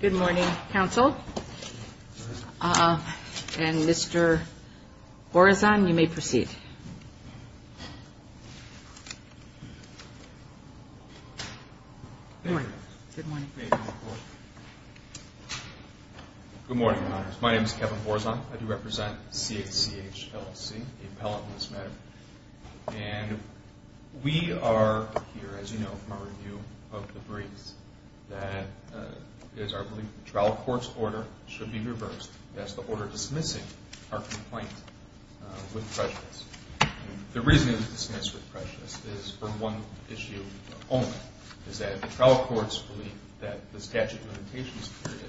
Good morning counsel and Mr. Borazon, you may proceed. My name is Kevin Borazon, I do represent CACH LLC, a appellate in this matter. We are here as you know from our review of the briefs that is our belief the trial court's order should be reversed, that's the order dismissing our complaint with prejudice. The reason we dismiss with prejudice is for one issue only, is that the trial courts believe that the statute of limitations period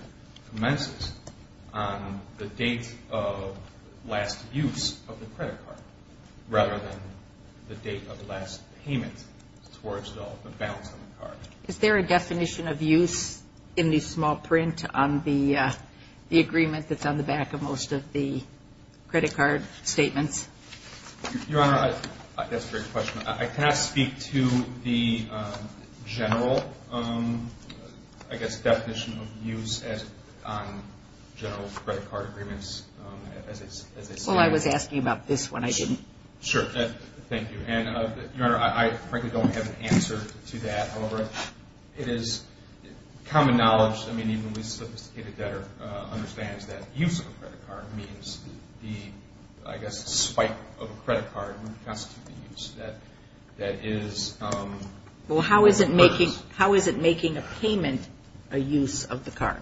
commences on the date of last use of the credit card rather than the date of last payment towards the balance of the card. Is there a definition of use in the small print on the agreement that's on the back of most of the credit card statements? Your Honor, that's a great question. I cannot speak to the general I guess definition of use as general credit card agreements as it stands. Well I was asking about this one, I didn't. Sure, thank you. Your Honor, I frankly don't have an answer to that, however, it is common knowledge, I mean even the sophisticated debtor understands that use of a credit card means the I guess spike of a credit card would constitute the use that is. Well how is it making a payment a use of the card?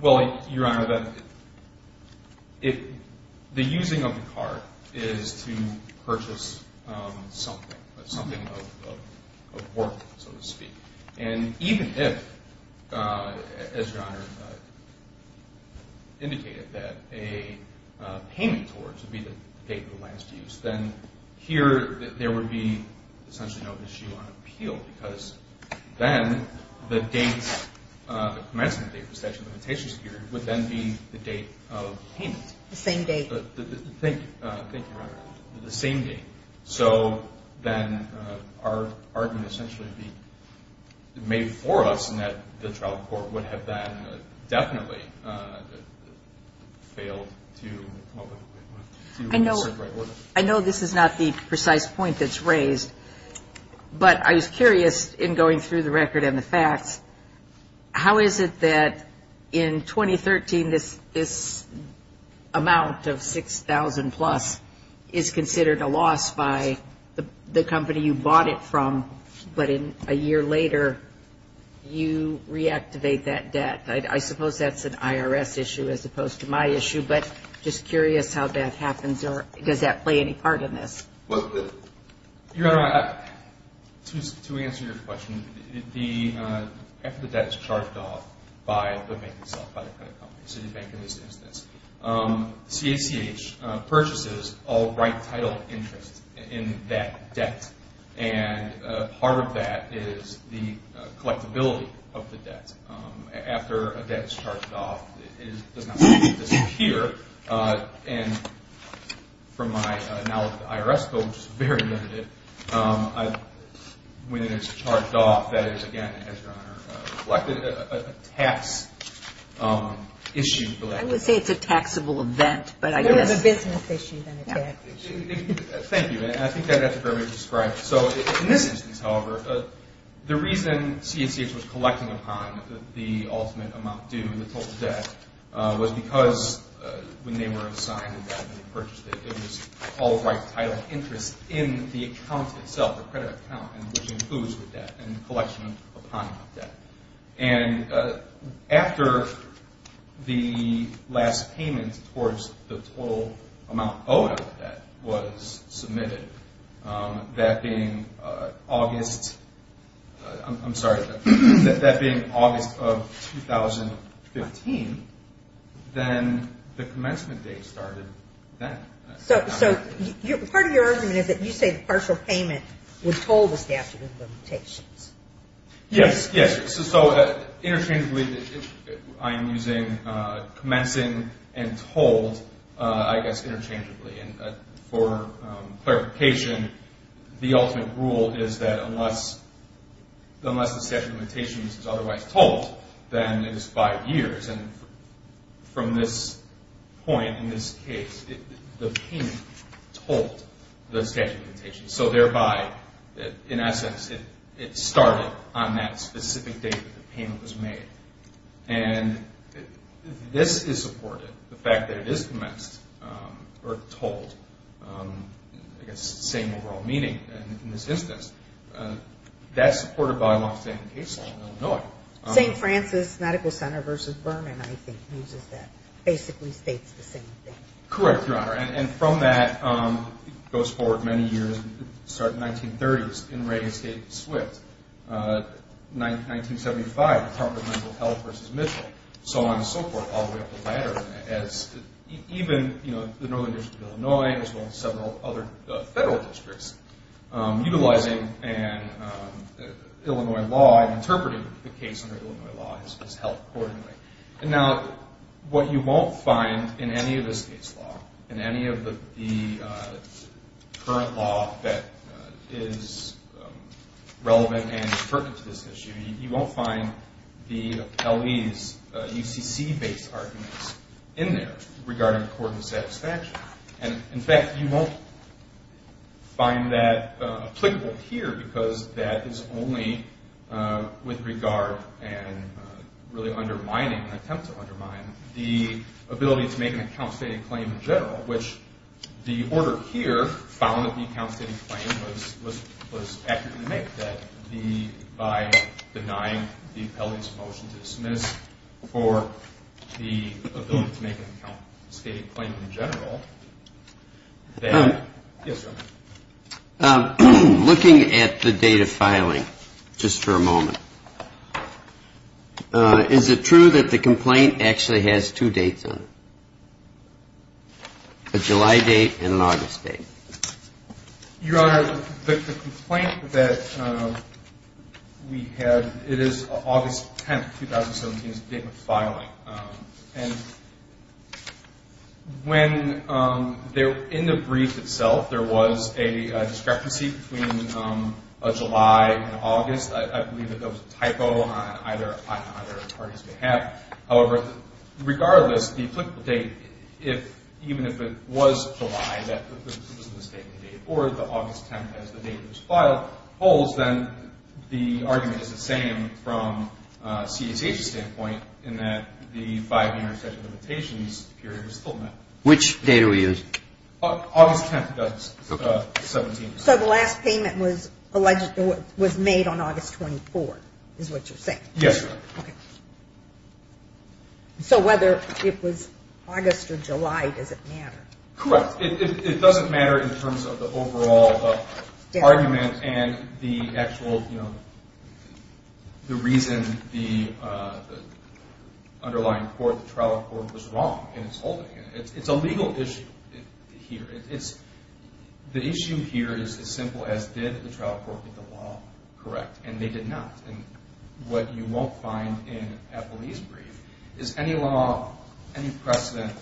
Well Your Honor, the using of the card is to purchase something, something of worth so to speak. And even if, as Your Honor indicated, that a payment towards would be the date of the last use, then here there would be essentially no issue on appeal because then the date, the commencement date, the statute of limitations period would then be the date of payment. The same date. Thank you, Your Honor, the same date. So then our argument essentially would be made for us in that the trial court would have then definitely failed to do what was in the right order. I know this is not the precise point that's raised, but I was curious in going through the record and the facts, how is it that in 2013 this amount of 6,000 plus is considered a loss by the company you bought it from, but a year later you reactivate that debt? I suppose that's an IRS issue as opposed to my issue, but just curious how that happens or does that play any part in this? Your Honor, to answer your question, after the debt is charged off by the bank itself, Citibank in this instance, CACH purchases all right title interest in that debt, and part of that is the collectability of the debt. After a debt is charged off, it does not disappear, and from my knowledge of the IRS code, which is very limited, when it is charged off, that is again, as Your Honor reflected, a tax issue. I would say it's a taxable event, but I guess. It's more of a business issue than a tax issue. Thank you, and I think that's a fair way to describe it. So in this instance, however, the reason CACH was collecting upon the ultimate amount due, the total debt, was because when they were assigned the debt and purchased it, it was all right title interest in the account itself, the credit account, which includes the debt and the collection upon the debt. And after the last payment towards the total amount owed on the debt was submitted, that being August of 2015, then the commencement date started then. So part of your argument is that you say the partial payment was told the statute of limitations. Yes, yes. So interchangeably, I'm using commencing and told, I guess, interchangeably. And for clarification, the ultimate rule is that unless the statute of limitations is otherwise told, then it is five years. And from this point in this case, the payment told the statute of limitations. So thereby, in essence, it started on that specific date that the payment was made. And this is supported, the fact that it is commenced or told, I guess, same overall meaning in this instance. That's supported by a longstanding case law in Illinois. St. Francis Medical Center versus Vernon, I think, uses that. Basically states the same thing. Correct, Your Honor. And from that, it goes forward many years. It started in the 1930s in Reagan State and Swift. 1975, Department of Mental Health versus Mitchell, so on and so forth, all the way up the ladder. Even the Northern District of Illinois, as well as several other federal districts, utilizing Illinois law and interpreting the case under Illinois law has helped accordingly. And now what you won't find in any of this case law, in any of the current law that is relevant and pertinent to this issue, you won't find the LE's UCC-based arguments in there regarding court and statute. And, in fact, you won't find that applicable here because that is only with regard and really undermining, an attempt to undermine, the ability to make an account stating claim in general, which the order here found that the account stating claim was accurate in the make. By denying the LE's motion to dismiss for the ability to make an account stating claim in general. Yes, Your Honor. Looking at the date of filing, just for a moment, is it true that the complaint actually has two dates on it? A July date and an August date? Your Honor, the complaint that we had, it is August 10th, 2017 is the date of filing. And when, in the brief itself, there was a discrepancy between a July and August, I believe that that was a typo on either party's behalf. However, regardless, the applicable date, even if it was July, or the August 10th as the date was filed, holds, then the argument is the same from CSH's standpoint in that the five-year session limitations period was still met. Which date are we using? August 10th, 2017. So the last payment was made on August 24th, is what you're saying? Yes, Your Honor. So whether it was August or July, does it matter? Correct. It doesn't matter in terms of the overall argument and the actual, you know, the reason the underlying court, the trial court, was wrong in its holding. It's a legal issue here. The issue here is as simple as did the trial court get the law correct, and they did not. And what you won't find in Appleby's brief is any law, any precedent,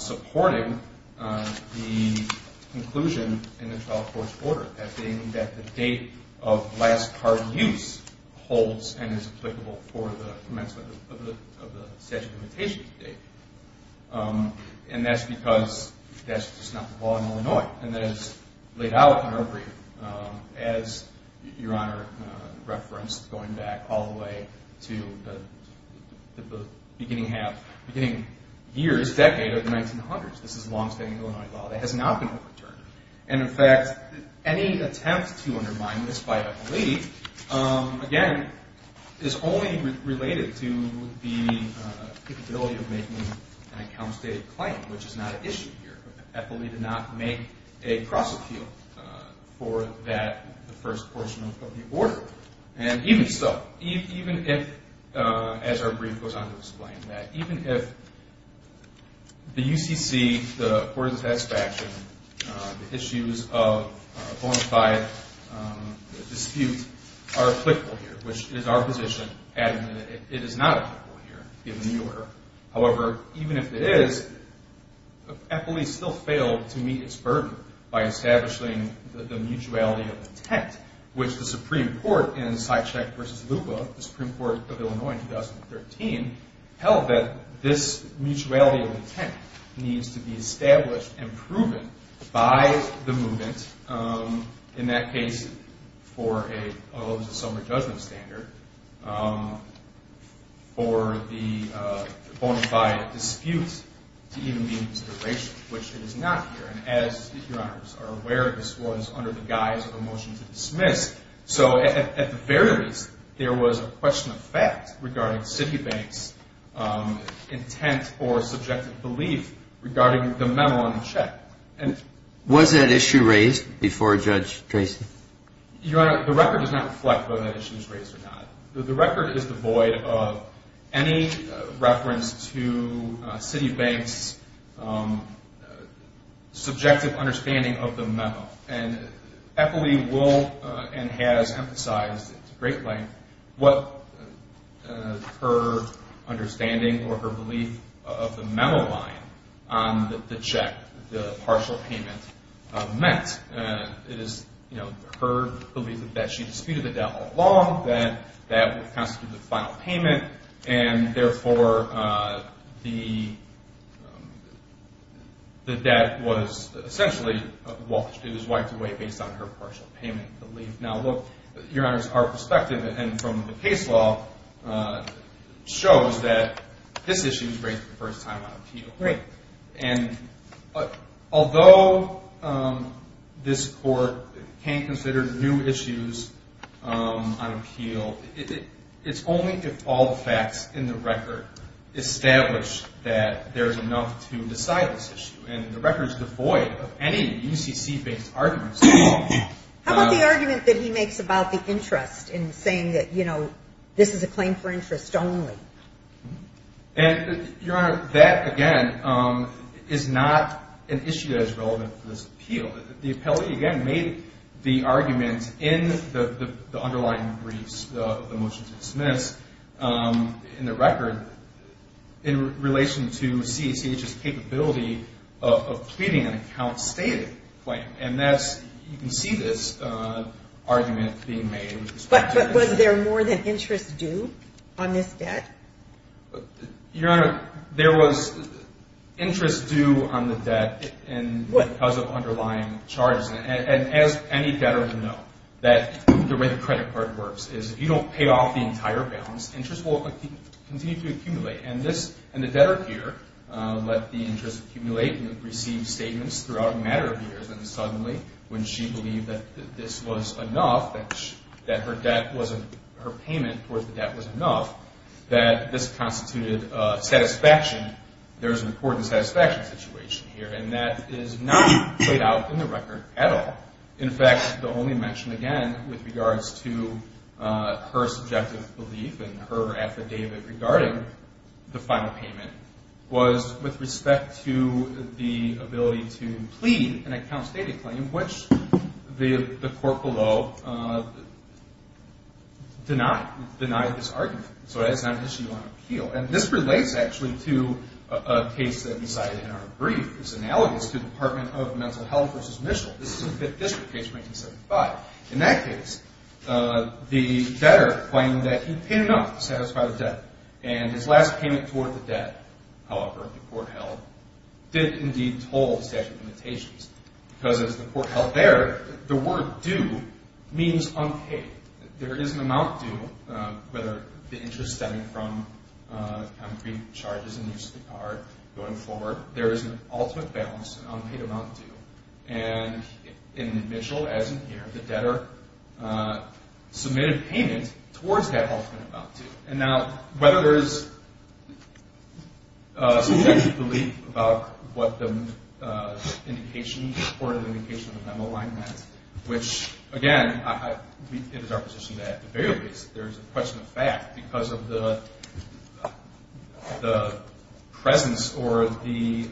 supporting the conclusion in the trial court's order, that being that the date of last card use holds and is applicable for the commencement of the statute of limitations date. And that's because that's just not the law in Illinois. And that is laid out in our brief, as Your Honor referenced, going back all the way to the beginning half, beginning years, decade of the 1900s. This is a long-standing Illinois law that has not been overturned. And in fact, any attempt to undermine this by Appleby, again, is only related to the capability of making an account-stated claim, which is not an issue here. Appleby did not make a cross-appeal for that, the first portion of the order. And even so, even if, as our brief goes on to explain that, even if the UCC, the court of satisfaction, the issues of bona fide dispute are applicable here, which is our position, it is not applicable here, given the order. However, even if it is, Appleby still failed to meet its burden by establishing the mutuality of intent, which the Supreme Court in Sycheck v. Lupa, the Supreme Court of Illinois in 2013, held that this mutuality of intent needs to be established and proven by the movement, in that case, for a sum or judgment standard, for the bona fide dispute to even be considered racial, which it is not here. And as Your Honors are aware, this was under the guise of a motion to dismiss. So at the very least, there was a question of fact regarding Citibank's intent or subjective belief regarding the memo on the check. Was that issue raised before Judge Tracy? Your Honor, the record does not reflect whether that issue was raised or not. The record is devoid of any reference to Citibank's subjective understanding of the memo. And Appleby will and has emphasized at great length what her understanding or her belief of the memo line on the check, the partial payment, meant. It is, you know, her belief that she disputed the debt all along, that that would constitute the final payment, and therefore the debt was essentially wiped away based on her partial payment belief. Now, look, Your Honors, our perspective and from the case law shows that this issue was raised the first time on appeal. Right. And although this Court can consider new issues on appeal, it's only if all the facts in the record establish that there's enough to decide this issue. And the record is devoid of any UCC-based arguments. How about the argument that he makes about the interest in saying that, you know, this is a claim for interest only? And, Your Honor, that, again, is not an issue that is relevant to this appeal. The appellee, again, made the argument in the underlying briefs, the motion to dismiss, in the record, in relation to CCH's capability of pleading an account-stated claim. And that's you can see this argument being made. But was there more than interest due on this debt? Your Honor, there was interest due on the debt because of underlying charges. And as any debtor would know, the way the credit card works is if you don't pay off the entire balance, interest will continue to accumulate. And the debtor here let the interest accumulate and received statements throughout a matter of years. And then suddenly, when she believed that this was enough, that her debt wasn't, her payment for the debt was enough, that this constituted satisfaction, there's an important satisfaction situation here. And that is not played out in the record at all. In fact, the only mention, again, with regards to her subjective belief and her affidavit regarding the final payment, was with respect to the ability to plead an account-stated claim, which the court below denied, denied this argument. So that's not an issue on appeal. And this relates, actually, to a case that we cited in our brief. It's analogous to the Department of Mental Health v. Mitchell. This is a Fifth District case from 1975. In that case, the debtor claimed that he paid enough to satisfy the debt. And his last payment toward the debt, however, the court held, did indeed toll the statute of limitations. Because, as the court held there, the word due means unpaid. There is an amount due, whether the interest stemming from concrete charges in use of the card going forward, there is an ultimate balance, an unpaid amount due. And in Mitchell, as in here, the debtor submitted payment towards that ultimate amount due. And now, whether there is a subjective belief about what the indication, the court indication of the memo line meant, which, again, it is our position that at the very least, there is a question of fact because of the presence or the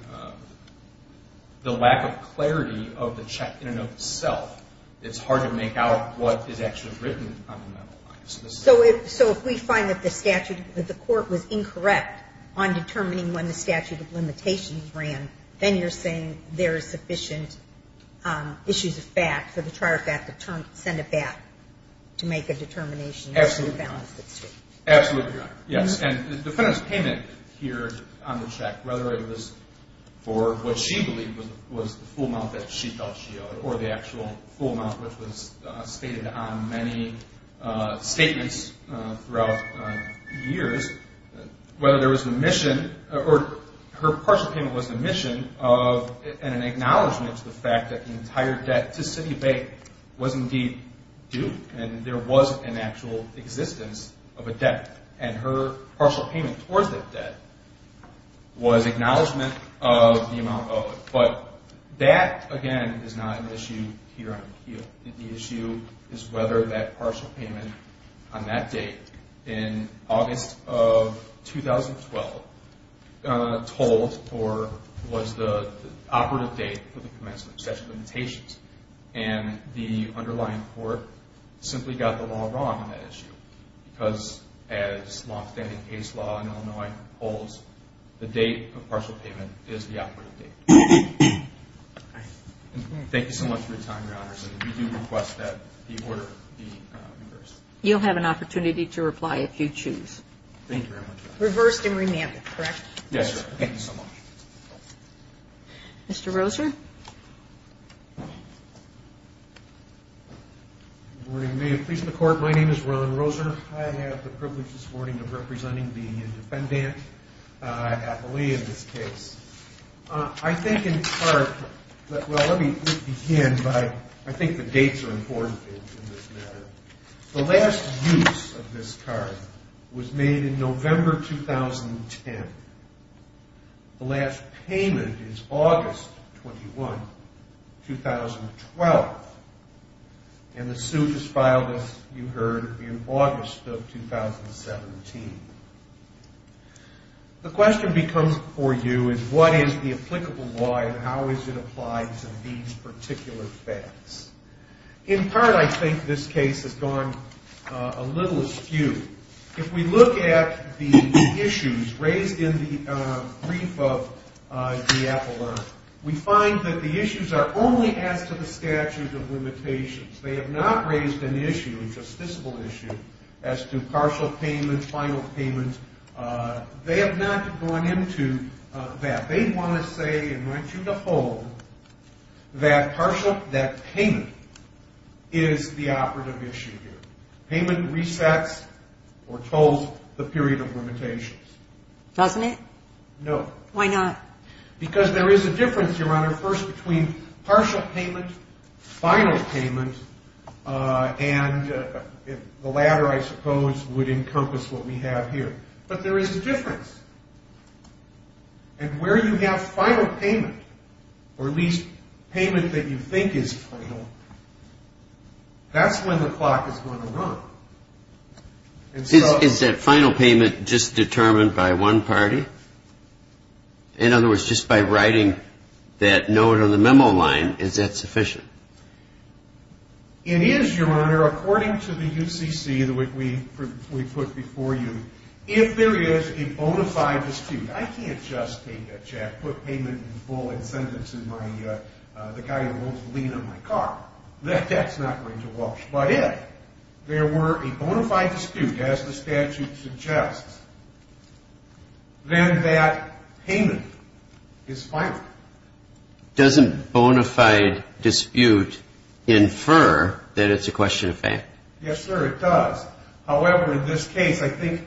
lack of clarity of the check in and of itself. It's hard to make out what is actually written on the memo line. So if we find that the statute, that the court was incorrect on determining when the statute of limitations ran, then you're saying there is sufficient issues of fact for the trier of fact to send it back to make a determination. Absolutely. Absolutely, Your Honor. Yes. And the defendant's payment here on the check, whether it was for what she believed was the full amount that she thought she owed or the actual full amount, which was stated on many statements throughout years, whether there was an omission or her partial payment was an omission of and an acknowledgement to the fact that the entire debt to City of Bay was indeed due and there was an actual existence of a debt. And her partial payment towards that debt was acknowledgement of the amount owed. But that, again, is not an issue here on the appeal. The issue is whether that partial payment on that date in August of 2012 told or was the operative date for the commencement of statute of limitations. And the underlying court simply got the law wrong on that issue because as long-standing case law in Illinois holds, the date of partial payment is the operative date. Thank you so much for your time, Your Honor. We do request that the order be reversed. You'll have an opportunity to reply if you choose. Thank you very much. Reversed and remanded, correct? Yes, sir. Thank you so much. Mr. Roser? Good morning. May it please the Court, my name is Ron Roser. I have the privilege this morning of representing the defendant, appellee in this case. I think in part, well, let me begin by I think the dates are important in this matter. The last use of this card was made in November 2010. The last payment is August 21, 2012. And the suit is filed, as you heard, in August of 2017. The question becomes before you is what is the applicable law and how is it applied to these particular facts? In part, I think this case has gone a little askew. If we look at the issues raised in the brief of the appellant, we find that the issues are only as to the statute of limitations. They have not raised an issue, a justiciable issue, as to partial payment, final payment. They have not gone into that. They want to say, and want you to hold, that payment is the operative issue here. Payment resets or tolls the period of limitations. Doesn't it? No. Why not? Because there is a difference, Your Honor, first between partial payment, final payment, and the latter, I suppose, would encompass what we have here. But there is a difference. And where you have final payment, or at least payment that you think is final, that's when the clock is going to run. Is that final payment just determined by one party? In other words, just by writing that note on the memo line, is that sufficient? It is, Your Honor, according to the UCC that we put before you. If there is a bona fide dispute, I can't just take that check, put payment in full, and send it to the guy who owns the lien on my car. That's not going to work. But if there were a bona fide dispute, as the statute suggests, then that payment is final. Doesn't bona fide dispute infer that it's a question of payment? Yes, sir, it does. However, in this case, I think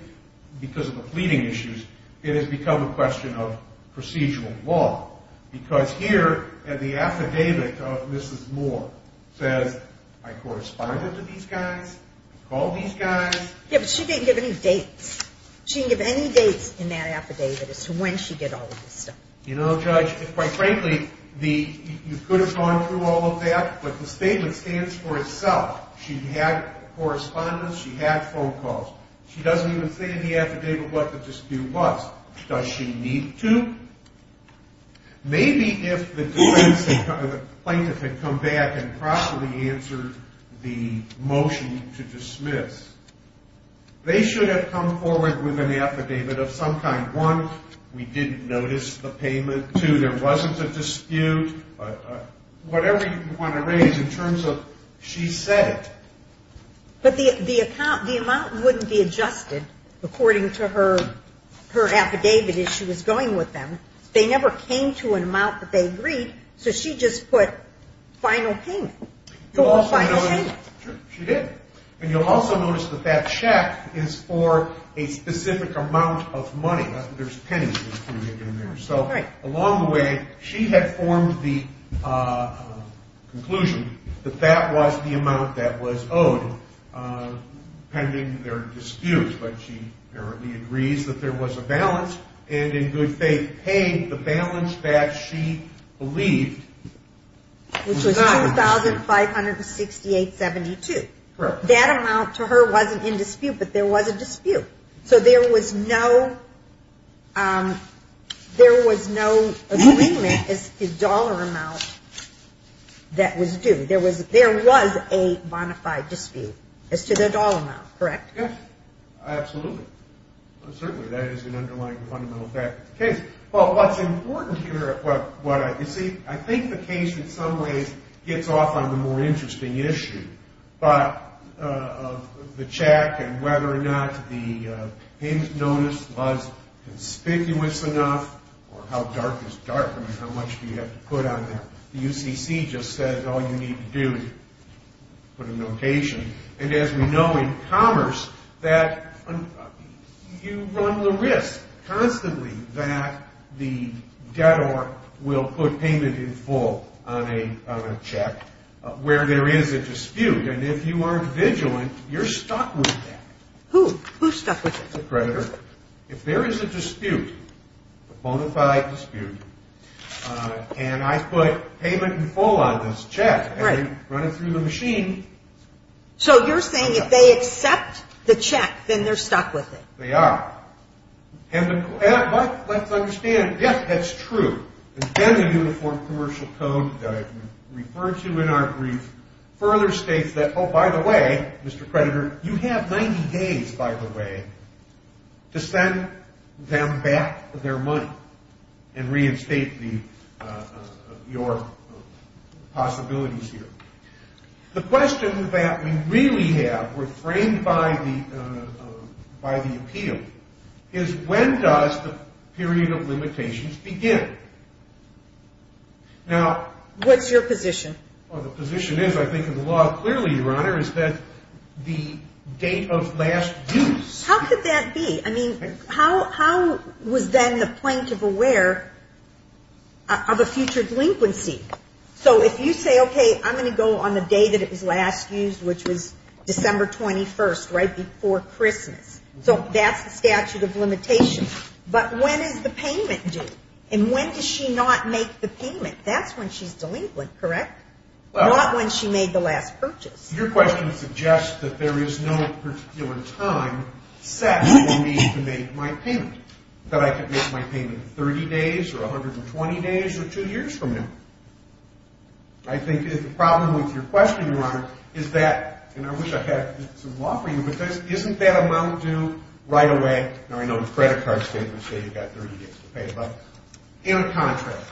because of the pleading issues, it has become a question of procedural law. Because here at the affidavit of Mrs. Moore says, I corresponded to these guys, called these guys. Yes, but she didn't give any dates. She didn't give any dates in that affidavit as to when she did all of this stuff. You know, Judge, quite frankly, you could have gone through all of that, but the statement stands for itself. She had correspondence. She had phone calls. She doesn't even say in the affidavit what the dispute was. Does she need to? Maybe if the plaintiff had come back and properly answered the motion to dismiss, they should have come forward with an affidavit of some kind. One, we didn't notice the payment. Two, there wasn't a dispute. Whatever you want to raise in terms of she said it. But the amount wouldn't be adjusted according to her affidavit as she was going with them. They never came to an amount that they agreed, so she just put final payment. She did. And you'll also notice that that check is for a specific amount of money. There's pennies included in there. Along the way, she had formed the conclusion that that was the amount that was owed pending their dispute, but she apparently agrees that there was a balance, and in good faith paid the balance that she believed was not. Which was $2,568.72. Correct. That amount to her wasn't in dispute, but there was a dispute. So there was no agreement as to the dollar amount that was due. There was a bona fide dispute as to the dollar amount. Correct? Yes. Absolutely. Certainly. That is an underlying fundamental fact of the case. Well, what's important here, you see, I think the case in some ways gets off on the more interesting issue, but the check and whether or not the payment notice was conspicuous enough, or how dark is dark? I mean, how much do you have to put on there? The UCC just says all you need to do is put a notation. And as we know in commerce, you run the risk constantly that the debtor will put payment in full on a check. Where there is a dispute. And if you aren't vigilant, you're stuck with that. Who? Who's stuck with it? The creditor. If there is a dispute, a bona fide dispute, and I put payment in full on this check, and they run it through the machine. So you're saying if they accept the check, then they're stuck with it. They are. And let's understand, yes, that's true. Again, the Uniform Commercial Code referred to in our brief further states that, oh, by the way, Mr. Creditor, you have 90 days, by the way, to send them back their money and reinstate your possibilities here. The question that we really have, we're framed by the appeal, is when does the period of limitations begin? Now. What's your position? Well, the position is, I think in the law clearly, Your Honor, is that the date of last dues. How could that be? I mean, how was then the plaintiff aware of a future delinquency? So if you say, okay, I'm going to go on the day that it was last used, which was December 21st, right before Christmas. So that's the statute of limitations. But when is the payment due? And when does she not make the payment? That's when she's delinquent, correct? Well. Not when she made the last purchase. Your question suggests that there is no particular time set for me to make my payment, that I could make my payment 30 days or 120 days or two years from now. I think the problem with your question, Your Honor, is that, and I wish I had some law for you, but isn't that amount due right away? Now, I know the credit card statements say you've got 30 days to pay it back. In contrast,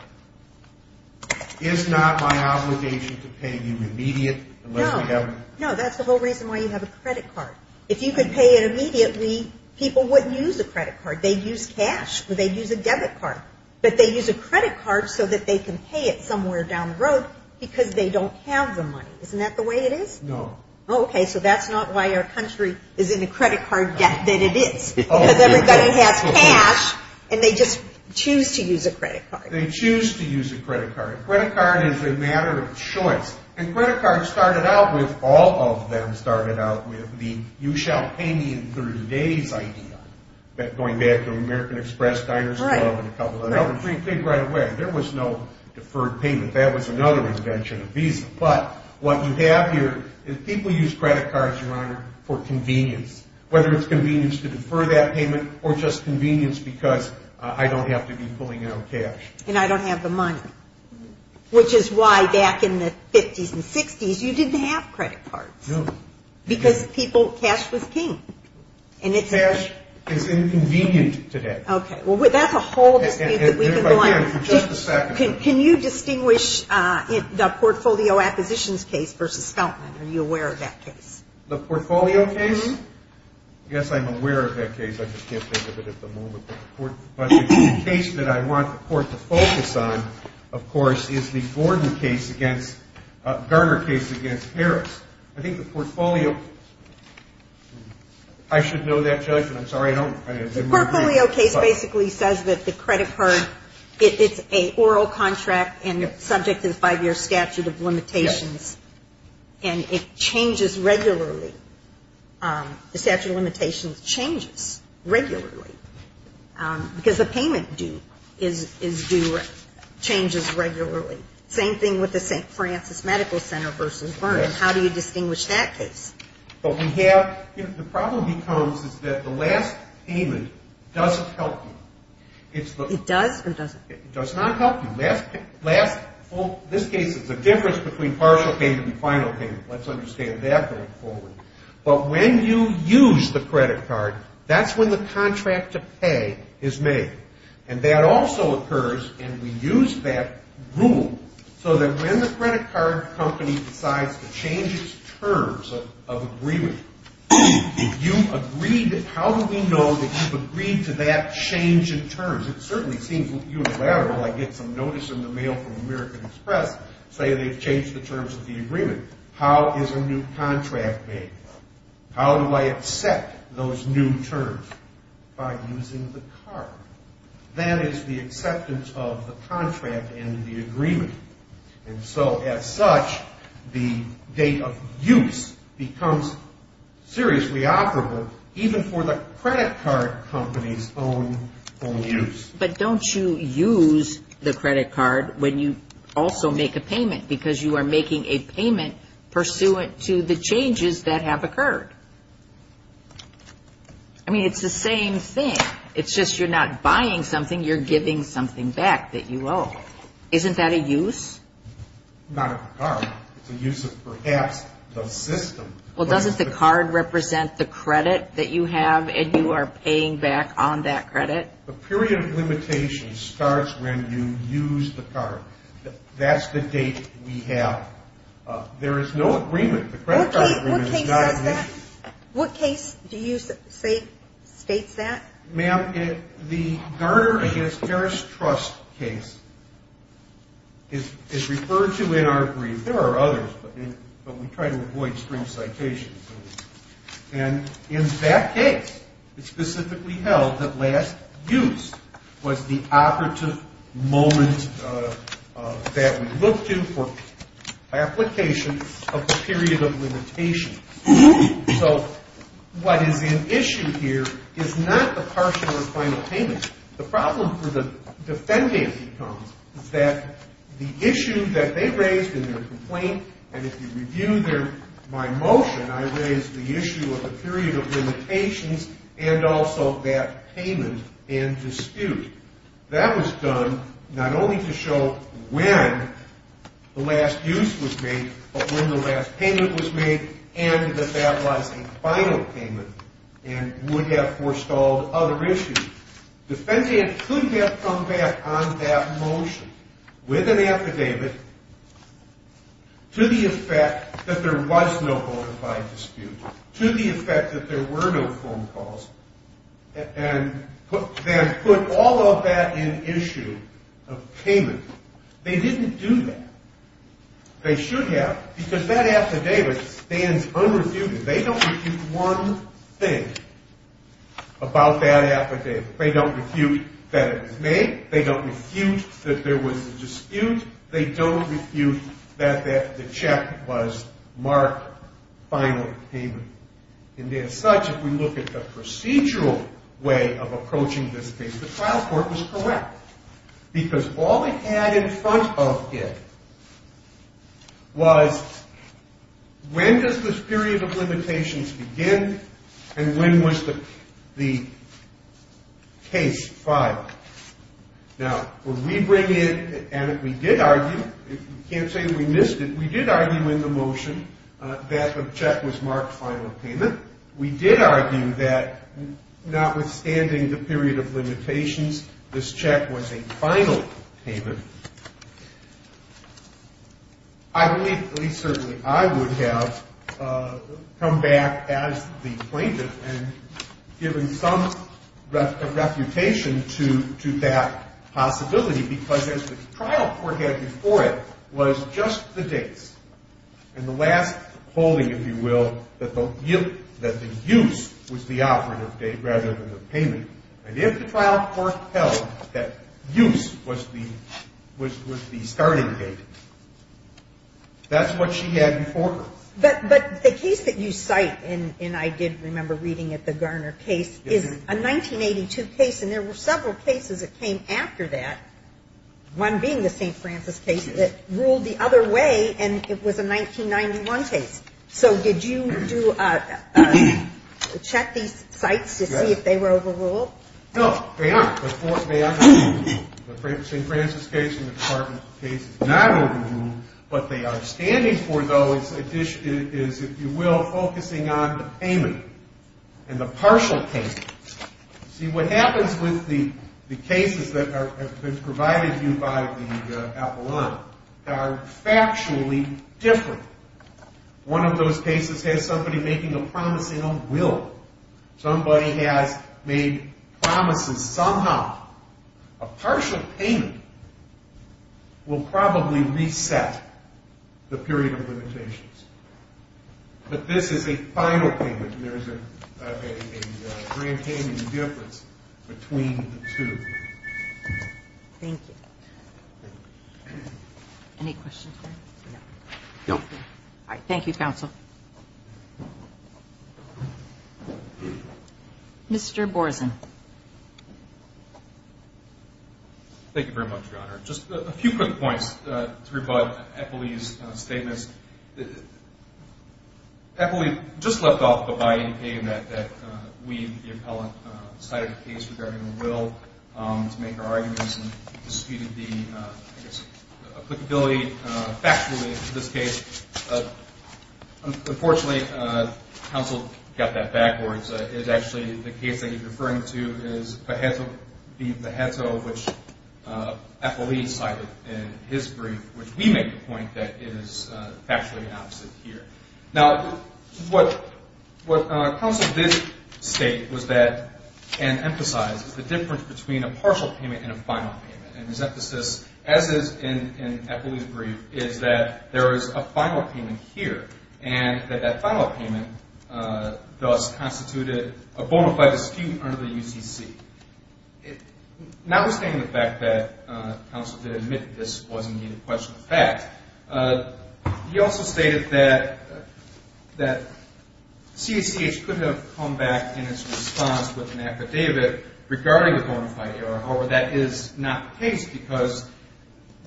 is not my obligation to pay you immediate unless we have. No. No, that's the whole reason why you have a credit card. If you could pay it immediately, people wouldn't use a credit card. They'd use cash, or they'd use a debit card. But they use a credit card so that they can pay it somewhere down the road because they don't have the money. Isn't that the way it is? No. Okay, so that's not why our country is in a credit card debt than it is. Because everybody has cash, and they just choose to use a credit card. They choose to use a credit card. A credit card is a matter of choice. And credit cards started out with, all of them started out with, the you-shall-pay-me-in-30-days idea, going back to American Express, Diner's Club, and a couple of others. If you think right away, there was no deferred payment. That was another invention of Visa. But what you have here is people use credit cards, Your Honor, for convenience, whether it's convenience to defer that payment or just convenience because I don't have to be pulling out cash. And I don't have the money, which is why back in the 50s and 60s you didn't have credit cards because people, cash was king. Cash is inconvenient today. Okay, well, that's a whole dispute that we've been going on. Can you distinguish the Portfolio Acquisitions case versus Feltman? Are you aware of that case? The Portfolio case? Yes, I'm aware of that case. I just can't think of it at the moment. But the case that I want the Court to focus on, of course, is the Gordon case against, Garner case against Harris. I think the Portfolio, I should know that judgment. I'm sorry, I don't. The Portfolio case basically says that the credit card, it's an oral contract and subject to the five-year statute of limitations. And it changes regularly. The statute of limitations changes regularly because the payment due changes regularly. Same thing with the St. Francis Medical Center versus Vernon. How do you distinguish that case? The problem becomes is that the last payment doesn't help you. It does or it doesn't? It does not help you. This case is the difference between partial payment and final payment. Let's understand that going forward. But when you use the credit card, that's when the contract to pay is made. And that also occurs, and we use that rule, so that when the credit card company decides to change its terms of agreement, how do we know that you've agreed to that change in terms? It certainly seems unilateral. I get some notice in the mail from American Express saying they've changed the terms of the agreement. How is a new contract made? How do I accept those new terms? By using the card. That is the acceptance of the contract and the agreement. And so, as such, the date of use becomes seriously operable, even for the credit card company's own use. But don't you use the credit card when you also make a payment because you are making a payment pursuant to the changes that have occurred? I mean, it's the same thing. It's just you're not buying something. You're giving something back that you owe. Isn't that a use? Not of the card. It's a use of perhaps the system. Well, doesn't the card represent the credit that you have, and you are paying back on that credit? The period of limitation starts when you use the card. That's the date we have. There is no agreement. The credit card agreement is not an issue. What case do you say states that? Ma'am, the Garner v. Harris Trust case is referred to in our brief. There are others, but we try to avoid string citations. And in that case, it's specifically held that last use was the operative moment that we look to for application of the period of limitation. So what is in issue here is not the partial or final payment. The problem for the defendant is that the issue that they raised in their complaint, and if you review my motion, I raised the issue of the period of limitations and also that payment and dispute. That was done not only to show when the last use was made, but when the last payment was made and that that was a final payment and would have forestalled other issues. Defendant could have come back on that motion with an affidavit to the effect that there was no bona fide dispute, to the effect that there were no phone calls, and then put all of that in issue of payment. They didn't do that. They should have, because that affidavit stands unrefuted. They don't refute one thing about that affidavit. They don't refute that it was made. They don't refute that there was a dispute. They don't refute that the check was marked final payment. And as such, if we look at the procedural way of approaching this case, the trial court was correct, because all it had in front of it was when does this period of limitations begin and when was the case filed. Now, when we bring in, and we did argue, you can't say we missed it, we did argue in the motion that the check was marked final payment. We did argue that notwithstanding the period of limitations, this check was a final payment. I believe, at least certainly I would have, come back as the plaintiff and given some reputation to that possibility, because as the trial court had before it was just the dates and the last holding, if you will, that the use was the operative date rather than the payment. And if the trial court held that use was the starting date, that's what she had before her. But the case that you cite, and I did remember reading it, the Garner case, is a 1982 case, and there were several cases that came after that, one being the St. Francis case that ruled the other way, and it was a 1991 case. So did you check these cites to see if they were overruled? No, they aren't. The St. Francis case and the Department of Justice case is not overruled. What they are standing for, though, is, if you will, focusing on the payment and the partial payment. See, what happens with the cases that have been provided to you by the Avalon are factually different. One of those cases has somebody making a promise in a will. Somebody has made promises somehow. A partial payment will probably reset the period of limitations. But this is a final payment, and there is a grand payment difference between the two. Thank you. Any questions? No. All right, thank you, counsel. Mr. Borzen. Thank you very much, Your Honor. Just a few quick points to rebut Eppley's statements. Eppley just left off by saying that we, the appellant, cited a case regarding a will to make our arguments and disputed the applicability factually in this case. Unfortunately, counsel got that backwards. It's actually the case that you're referring to is Paheto v. Paheto, which Eppley cited in his brief, which we make the point that it is factually opposite here. Now, what counsel did state and emphasize is the difference between a partial payment and a final payment. And his emphasis, as is in Eppley's brief, is that there is a final payment here, and that that final payment thus constituted a bona fide dispute under the UCC. Notwithstanding the fact that counsel did admit this wasn't a question of fact, he also stated that CACH could have come back in its response with an affidavit regarding the bona fide error. However, that is not the case because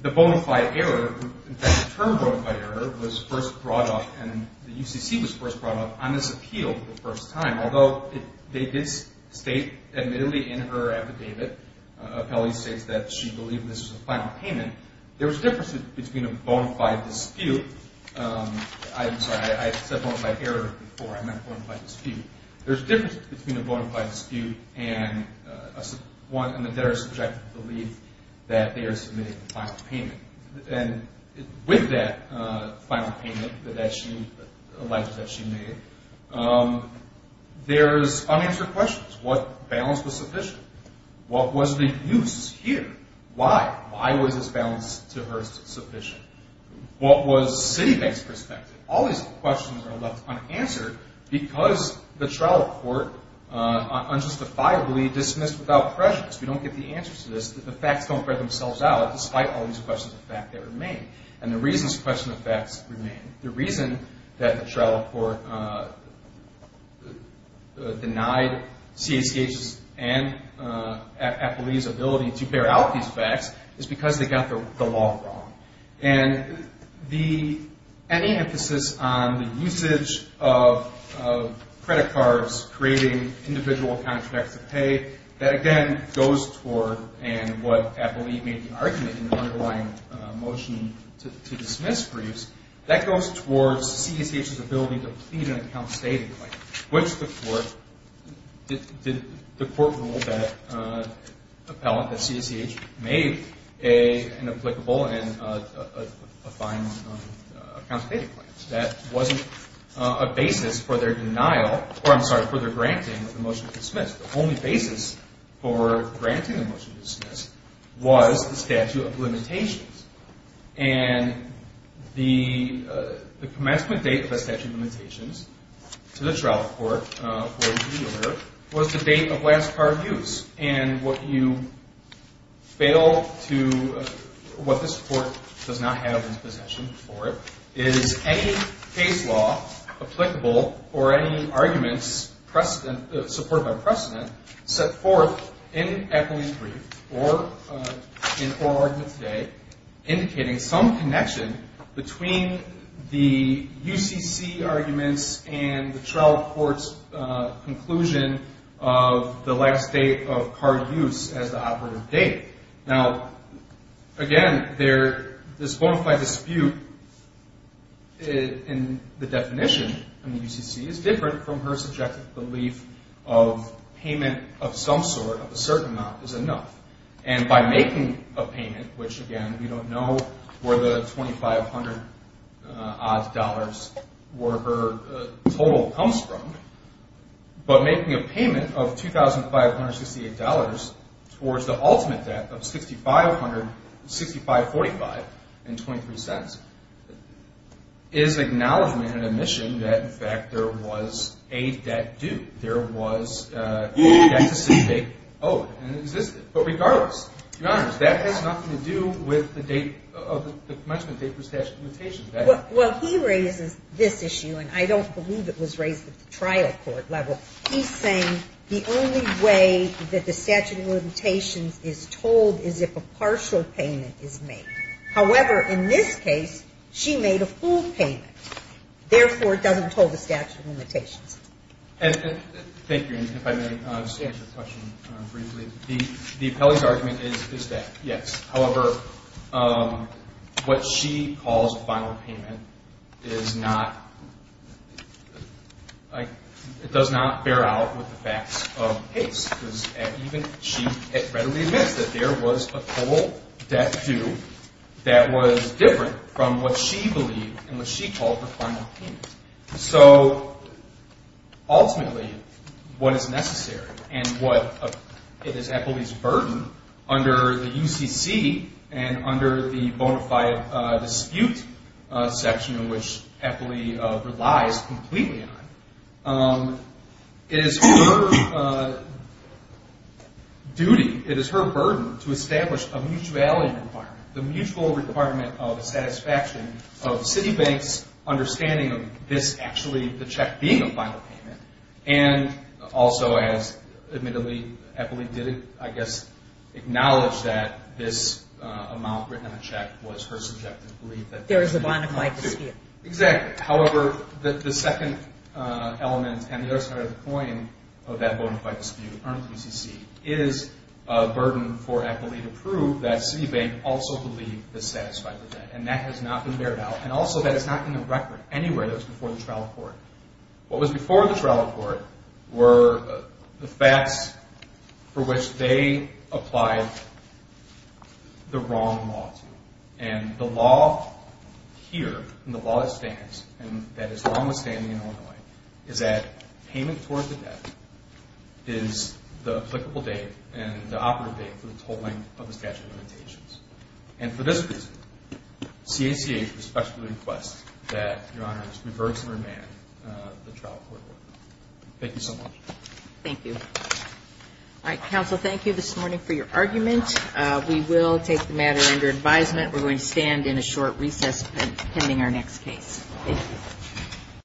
the bona fide error, in fact the term bona fide error, was first brought up, and the UCC was first brought up on this appeal for the first time, and although they did state admittedly in her affidavit, Eppley states that she believed this was a final payment, there was a difference between a bona fide dispute. I'm sorry, I said bona fide error before. I meant bona fide dispute. There's a difference between a bona fide dispute and a debtor's subjective belief that they are submitting a final payment. And with that final payment that she alleged that she made, there's unanswered questions. What balance was sufficient? What was the use here? Why? Why was this balance to her sufficient? What was Citibank's perspective? All these questions are left unanswered because the trial court unjustifiably dismissed without prejudice. We don't get the answer to this. The facts don't bear themselves out despite all these questions of fact that remain, and the reasons to question the facts remain. The reason that the trial court denied CACH's and Eppley's ability to bear out these facts is because they got the law wrong. And any emphasis on the usage of credit cards, creating individual contracts of pay, that again goes toward what Eppley made the argument in the underlying motion to dismiss briefs. That goes towards CACH's ability to plead an account stating claim, which the court ruled that appellant, that CACH, made an applicable and a fine account stating claim. That wasn't a basis for their denial, or I'm sorry, for their granting of the motion to dismiss. The only basis for granting the motion to dismiss was the statute of limitations. And the commencement date of the statute of limitations to the trial court was the date of last card use. And what you fail to, what this court does not have in possession for it, is any case law applicable or any arguments supported by precedent set forth in Eppley's brief or in oral argument today indicating some connection between the UCC arguments and the trial court's conclusion of the last date of card use as the operative date. Now, again, this bona fide dispute in the definition of the UCC is different from her subjective belief of payment of some sort of a certain amount is enough. And by making a payment, which, again, we don't know where the $2,500-odd or her total comes from, but making a payment of $2,568 towards the ultimate debt of $6,545.23 is acknowledgement and admission that, in fact, there was a debt due. There was a debt to some date owed and existed. But regardless, Your Honors, that has nothing to do with the commencement date for statute of limitations. Well, he raises this issue, and I don't believe it was raised at the trial court level. He's saying the only way that the statute of limitations is told is if a partial payment is made. However, in this case, she made a full payment. Therefore, it doesn't tell the statute of limitations. Thank you, Your Honor. If I may just answer the question briefly. The appellee's argument is that, yes. However, what she calls a final payment is not, like, it does not bear out with the facts of case. She readily admits that there was a total debt due that was different from what she believed and what she called her final payment. So, ultimately, what is necessary and what is appellee's burden under the UCC and under the bona fide dispute section, which appellee relies completely on, is her duty, it is her burden to establish a mutual value requirement, the mutual requirement of satisfaction of Citibank's understanding of this actually, the check being a final payment, and also, as admittedly, appellee did, I guess, acknowledge that this amount written in the check was her subjective belief. There is a bona fide dispute. Exactly. However, the second element and the other side of the coin of that bona fide dispute under the UCC is a burden for appellee to prove that Citibank also believed this satisfied the debt. And that has not been bared out. And also, that is not in the record anywhere that was before the trial court. What was before the trial court were the facts for which they applied the wrong law to. And the law here and the law that stands and that is long-standing in Illinois is that payment towards the debt is the applicable date and the operative date for the tolling of the statute of limitations. And for this reason, CACA respectfully requests that Your Honors reverse and remand the trial court order. Thank you so much. Thank you. All right. Counsel, thank you this morning for your argument. We will take the matter under advisement. We're going to stand in a short recess pending our next case. Thank you.